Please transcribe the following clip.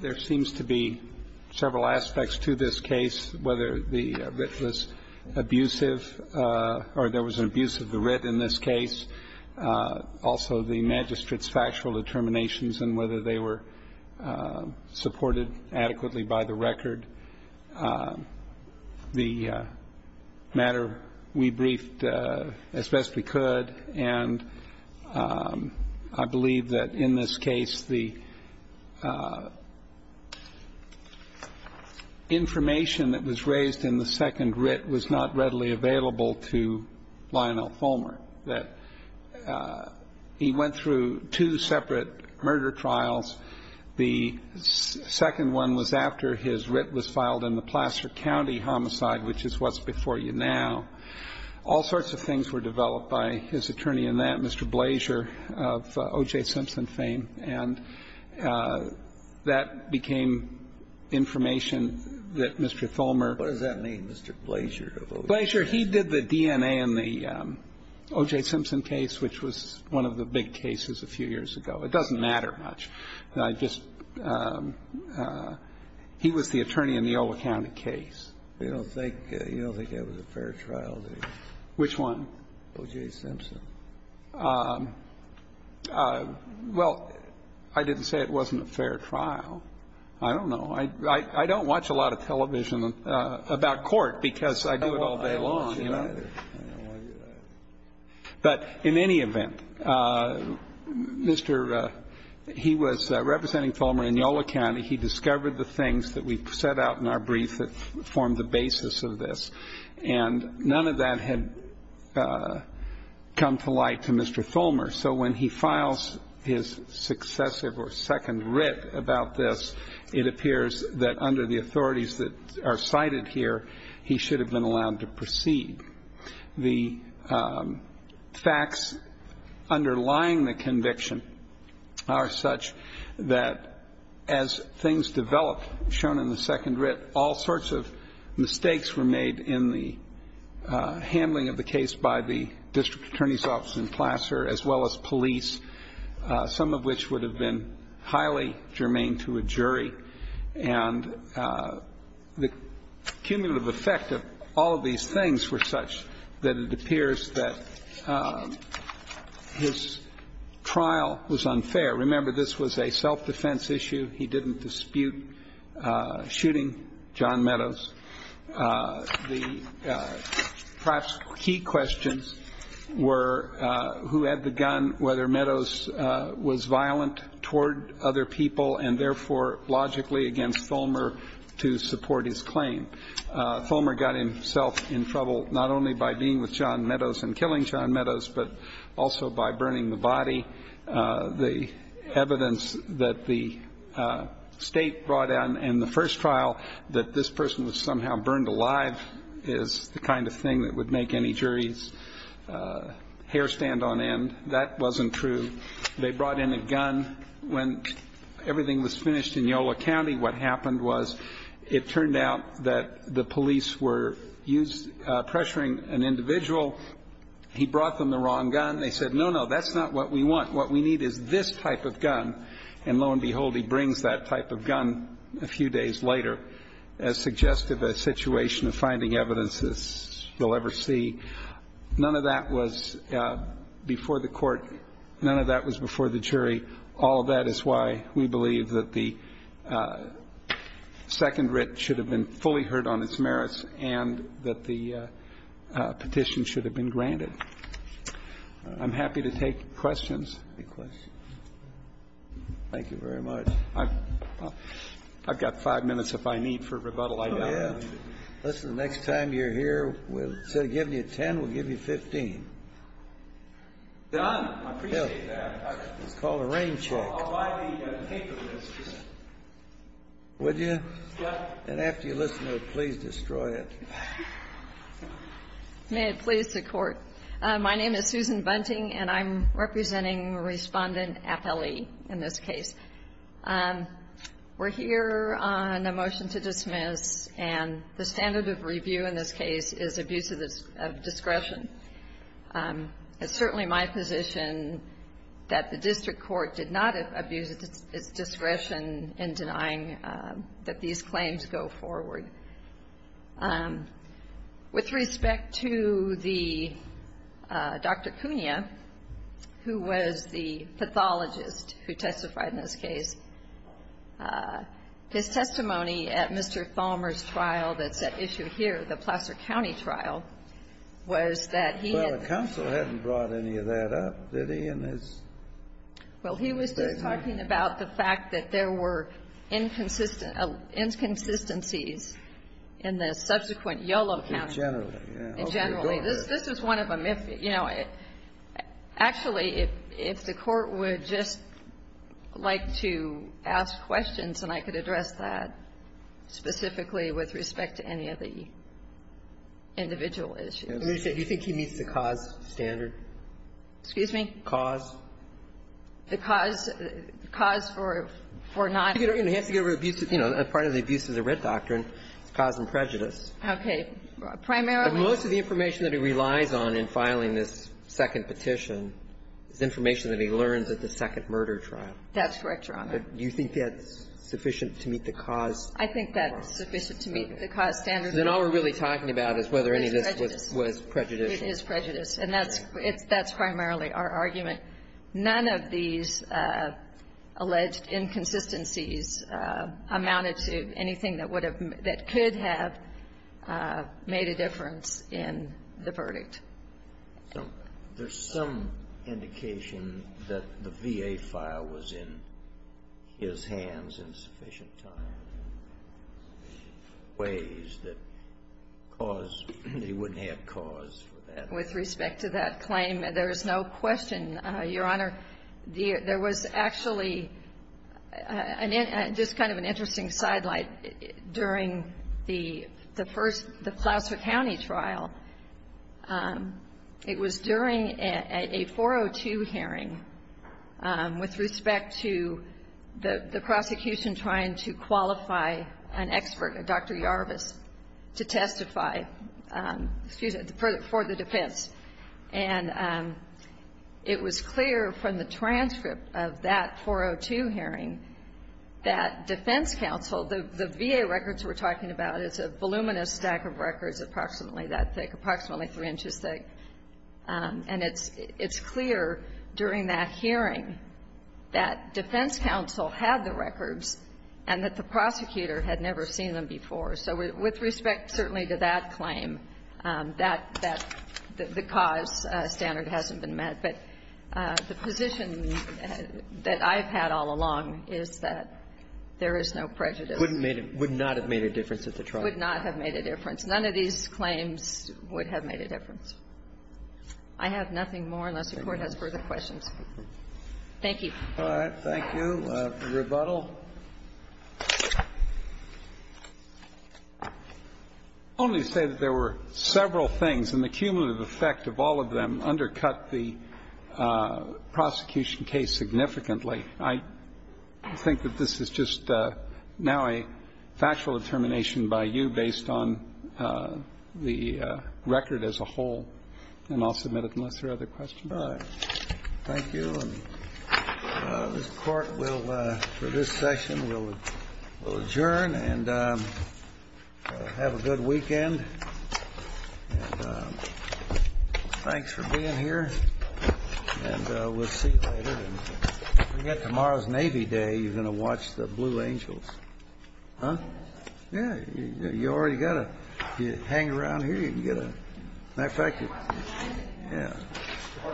There seems to be several aspects to this case, whether the writ was abusive, or there was an abuse of the writ in this case, also the magistrate's factual determinations and whether they were supported adequately by the record. The matter we briefed as best we could, and I believe that in this case the information that was raised in the second writ was not readily available to Lionel Tholmer. That he went through two separate murder trials. The second one was after his writ was filed in the Placer County homicide, which is what's before you now. All sorts of things were developed by his attorney in that, Mr. Blasier of O.J. Simpson fame, and that became information that Mr. Tholmer. Kennedy. What does that mean, Mr. Blasier? Blasier, he did the DNA in the O.J. Simpson case, which was one of the big cases a few years ago. It doesn't matter much. I just he was the attorney in the Ola County case. You don't think that was a fair trial? Which one? O.J. Simpson. Well, I didn't say it wasn't a fair trial. I don't know. I don't watch a lot of television about court because I do it all day long. But in any event, Mr. He was representing Tholmer in Ola County. He discovered the things that we set out in our brief that formed the basis of this. And none of that had come to light to Mr. Tholmer. So when he files his successive or second writ about this, it appears that under the authorities that are cited here, he should have been allowed to proceed. The facts underlying the conviction are such that as things develop, shown in the second writ, all sorts of mistakes were made in the handling of the case by the district attorney's office in Placer, as well as police, some of which would have been highly germane to a jury. And the cumulative effect of all of these things were such that it appears that his trial was unfair. Remember, this was a self-defense issue. He didn't dispute shooting John Meadows. The perhaps key questions were who had the gun, whether Meadows was violent toward other people, and therefore logically against Tholmer to support his claim. Tholmer got himself in trouble not only by being with John Meadows and killing John Meadows, but also by burning the body. The evidence that the state brought out in the first trial that this person was somehow burned alive is the kind of thing that would make any jury's hair stand on end. That wasn't true. They brought in a gun. When everything was finished in Yolo County, what happened was it turned out that the police were pressuring an individual. He brought them the wrong gun. They said, no, no, that's not what we want. What we need is this type of gun. And lo and behold, he brings that type of gun a few days later, as suggestive a situation of finding evidence as you'll ever see. None of that was before the court. None of that was before the jury. All of that is why we believe that the second writ should have been fully heard on its merits and that the petition should have been granted. I'm happy to take questions. Thank you very much. I've got five minutes if I need for rebuttal. The next time you're here, instead of giving you 10, we'll give you 15. Done. I appreciate that. It's called a rain check. I'll buy the paper list. Would you? Yes. And after you listen to it, please destroy it. May it please the Court. My name is Susan Bunting, and I'm representing Respondent Appelli in this case. We're here on a motion to dismiss, and the standard of review in this case is abuse of discretion. It's certainly my position that the district court did not abuse its discretion in denying that these claims go forward. With respect to the Dr. Cunha, who was the pathologist who testified in this case, his testimony at Mr. Thalmer's trial that's at issue here, the Placer County trial, was that he had the ---- Well, the counsel hadn't brought any of that up, did he, in his statement? Well, he was just talking about the fact that there were inconsistencies in the subsequent Yolo County. In general. In general. This is one of them. You know, actually, if the Court would just like to ask questions, and I could address that specifically with respect to any of the individual issues. Do you think he meets the cause standard? Excuse me? Cause? The cause for not ---- He has to get rid of abuse. You know, part of the abuse is a writ doctrine. It's cause and prejudice. Okay. Primarily ---- But most of the information that he relies on in filing this second petition is information that he learns at the second murder trial. That's correct, Your Honor. Do you think that's sufficient to meet the cause standard? I think that's sufficient to meet the cause standard. Then all we're really talking about is whether any of this was prejudicial. It is prejudiced. And that's primarily our argument. None of these alleged inconsistencies amounted to anything that would have ---- that could have made a difference in the verdict. So there's some indication that the VA file was in his hands in sufficient time in ways that cause ---- that he wouldn't have cause for that. With respect to that claim, there is no question, Your Honor, there was actually just kind of an interesting sidelight during the first ---- the Placer County trial. It was during a 402 hearing with respect to the prosecution trying to qualify an expert, Dr. Yarvis, to testify for the defense. And it was clear from the transcript of that 402 hearing that defense counsel ---- the VA records we're talking about, it's a voluminous stack of records approximately that thick, approximately three inches thick. And it's clear during that hearing that defense counsel had the records and that the prosecutor had never seen them before. So with respect certainly to that claim, that the cause standard hasn't been met. But the position that I've had all along is that there is no prejudice. Would not have made a difference at the trial. Would not have made a difference. None of these claims would have made a difference. I have nothing more unless the Court has further questions. Thank you. All right. We'll have the rebuttal. I'll only say that there were several things. And the cumulative effect of all of them undercut the prosecution case significantly. I think that this is just now a factual determination by you based on the record as a whole. And I'll submit it unless there are other questions. All right. Thank you. And this Court will, for this session, will adjourn and have a good weekend. And thanks for being here. And we'll see you later. Don't forget, tomorrow's Navy Day. You're going to watch the Blue Angels. Huh? Yeah. You already got to hang around here. You can get a, matter of fact, yeah. All right.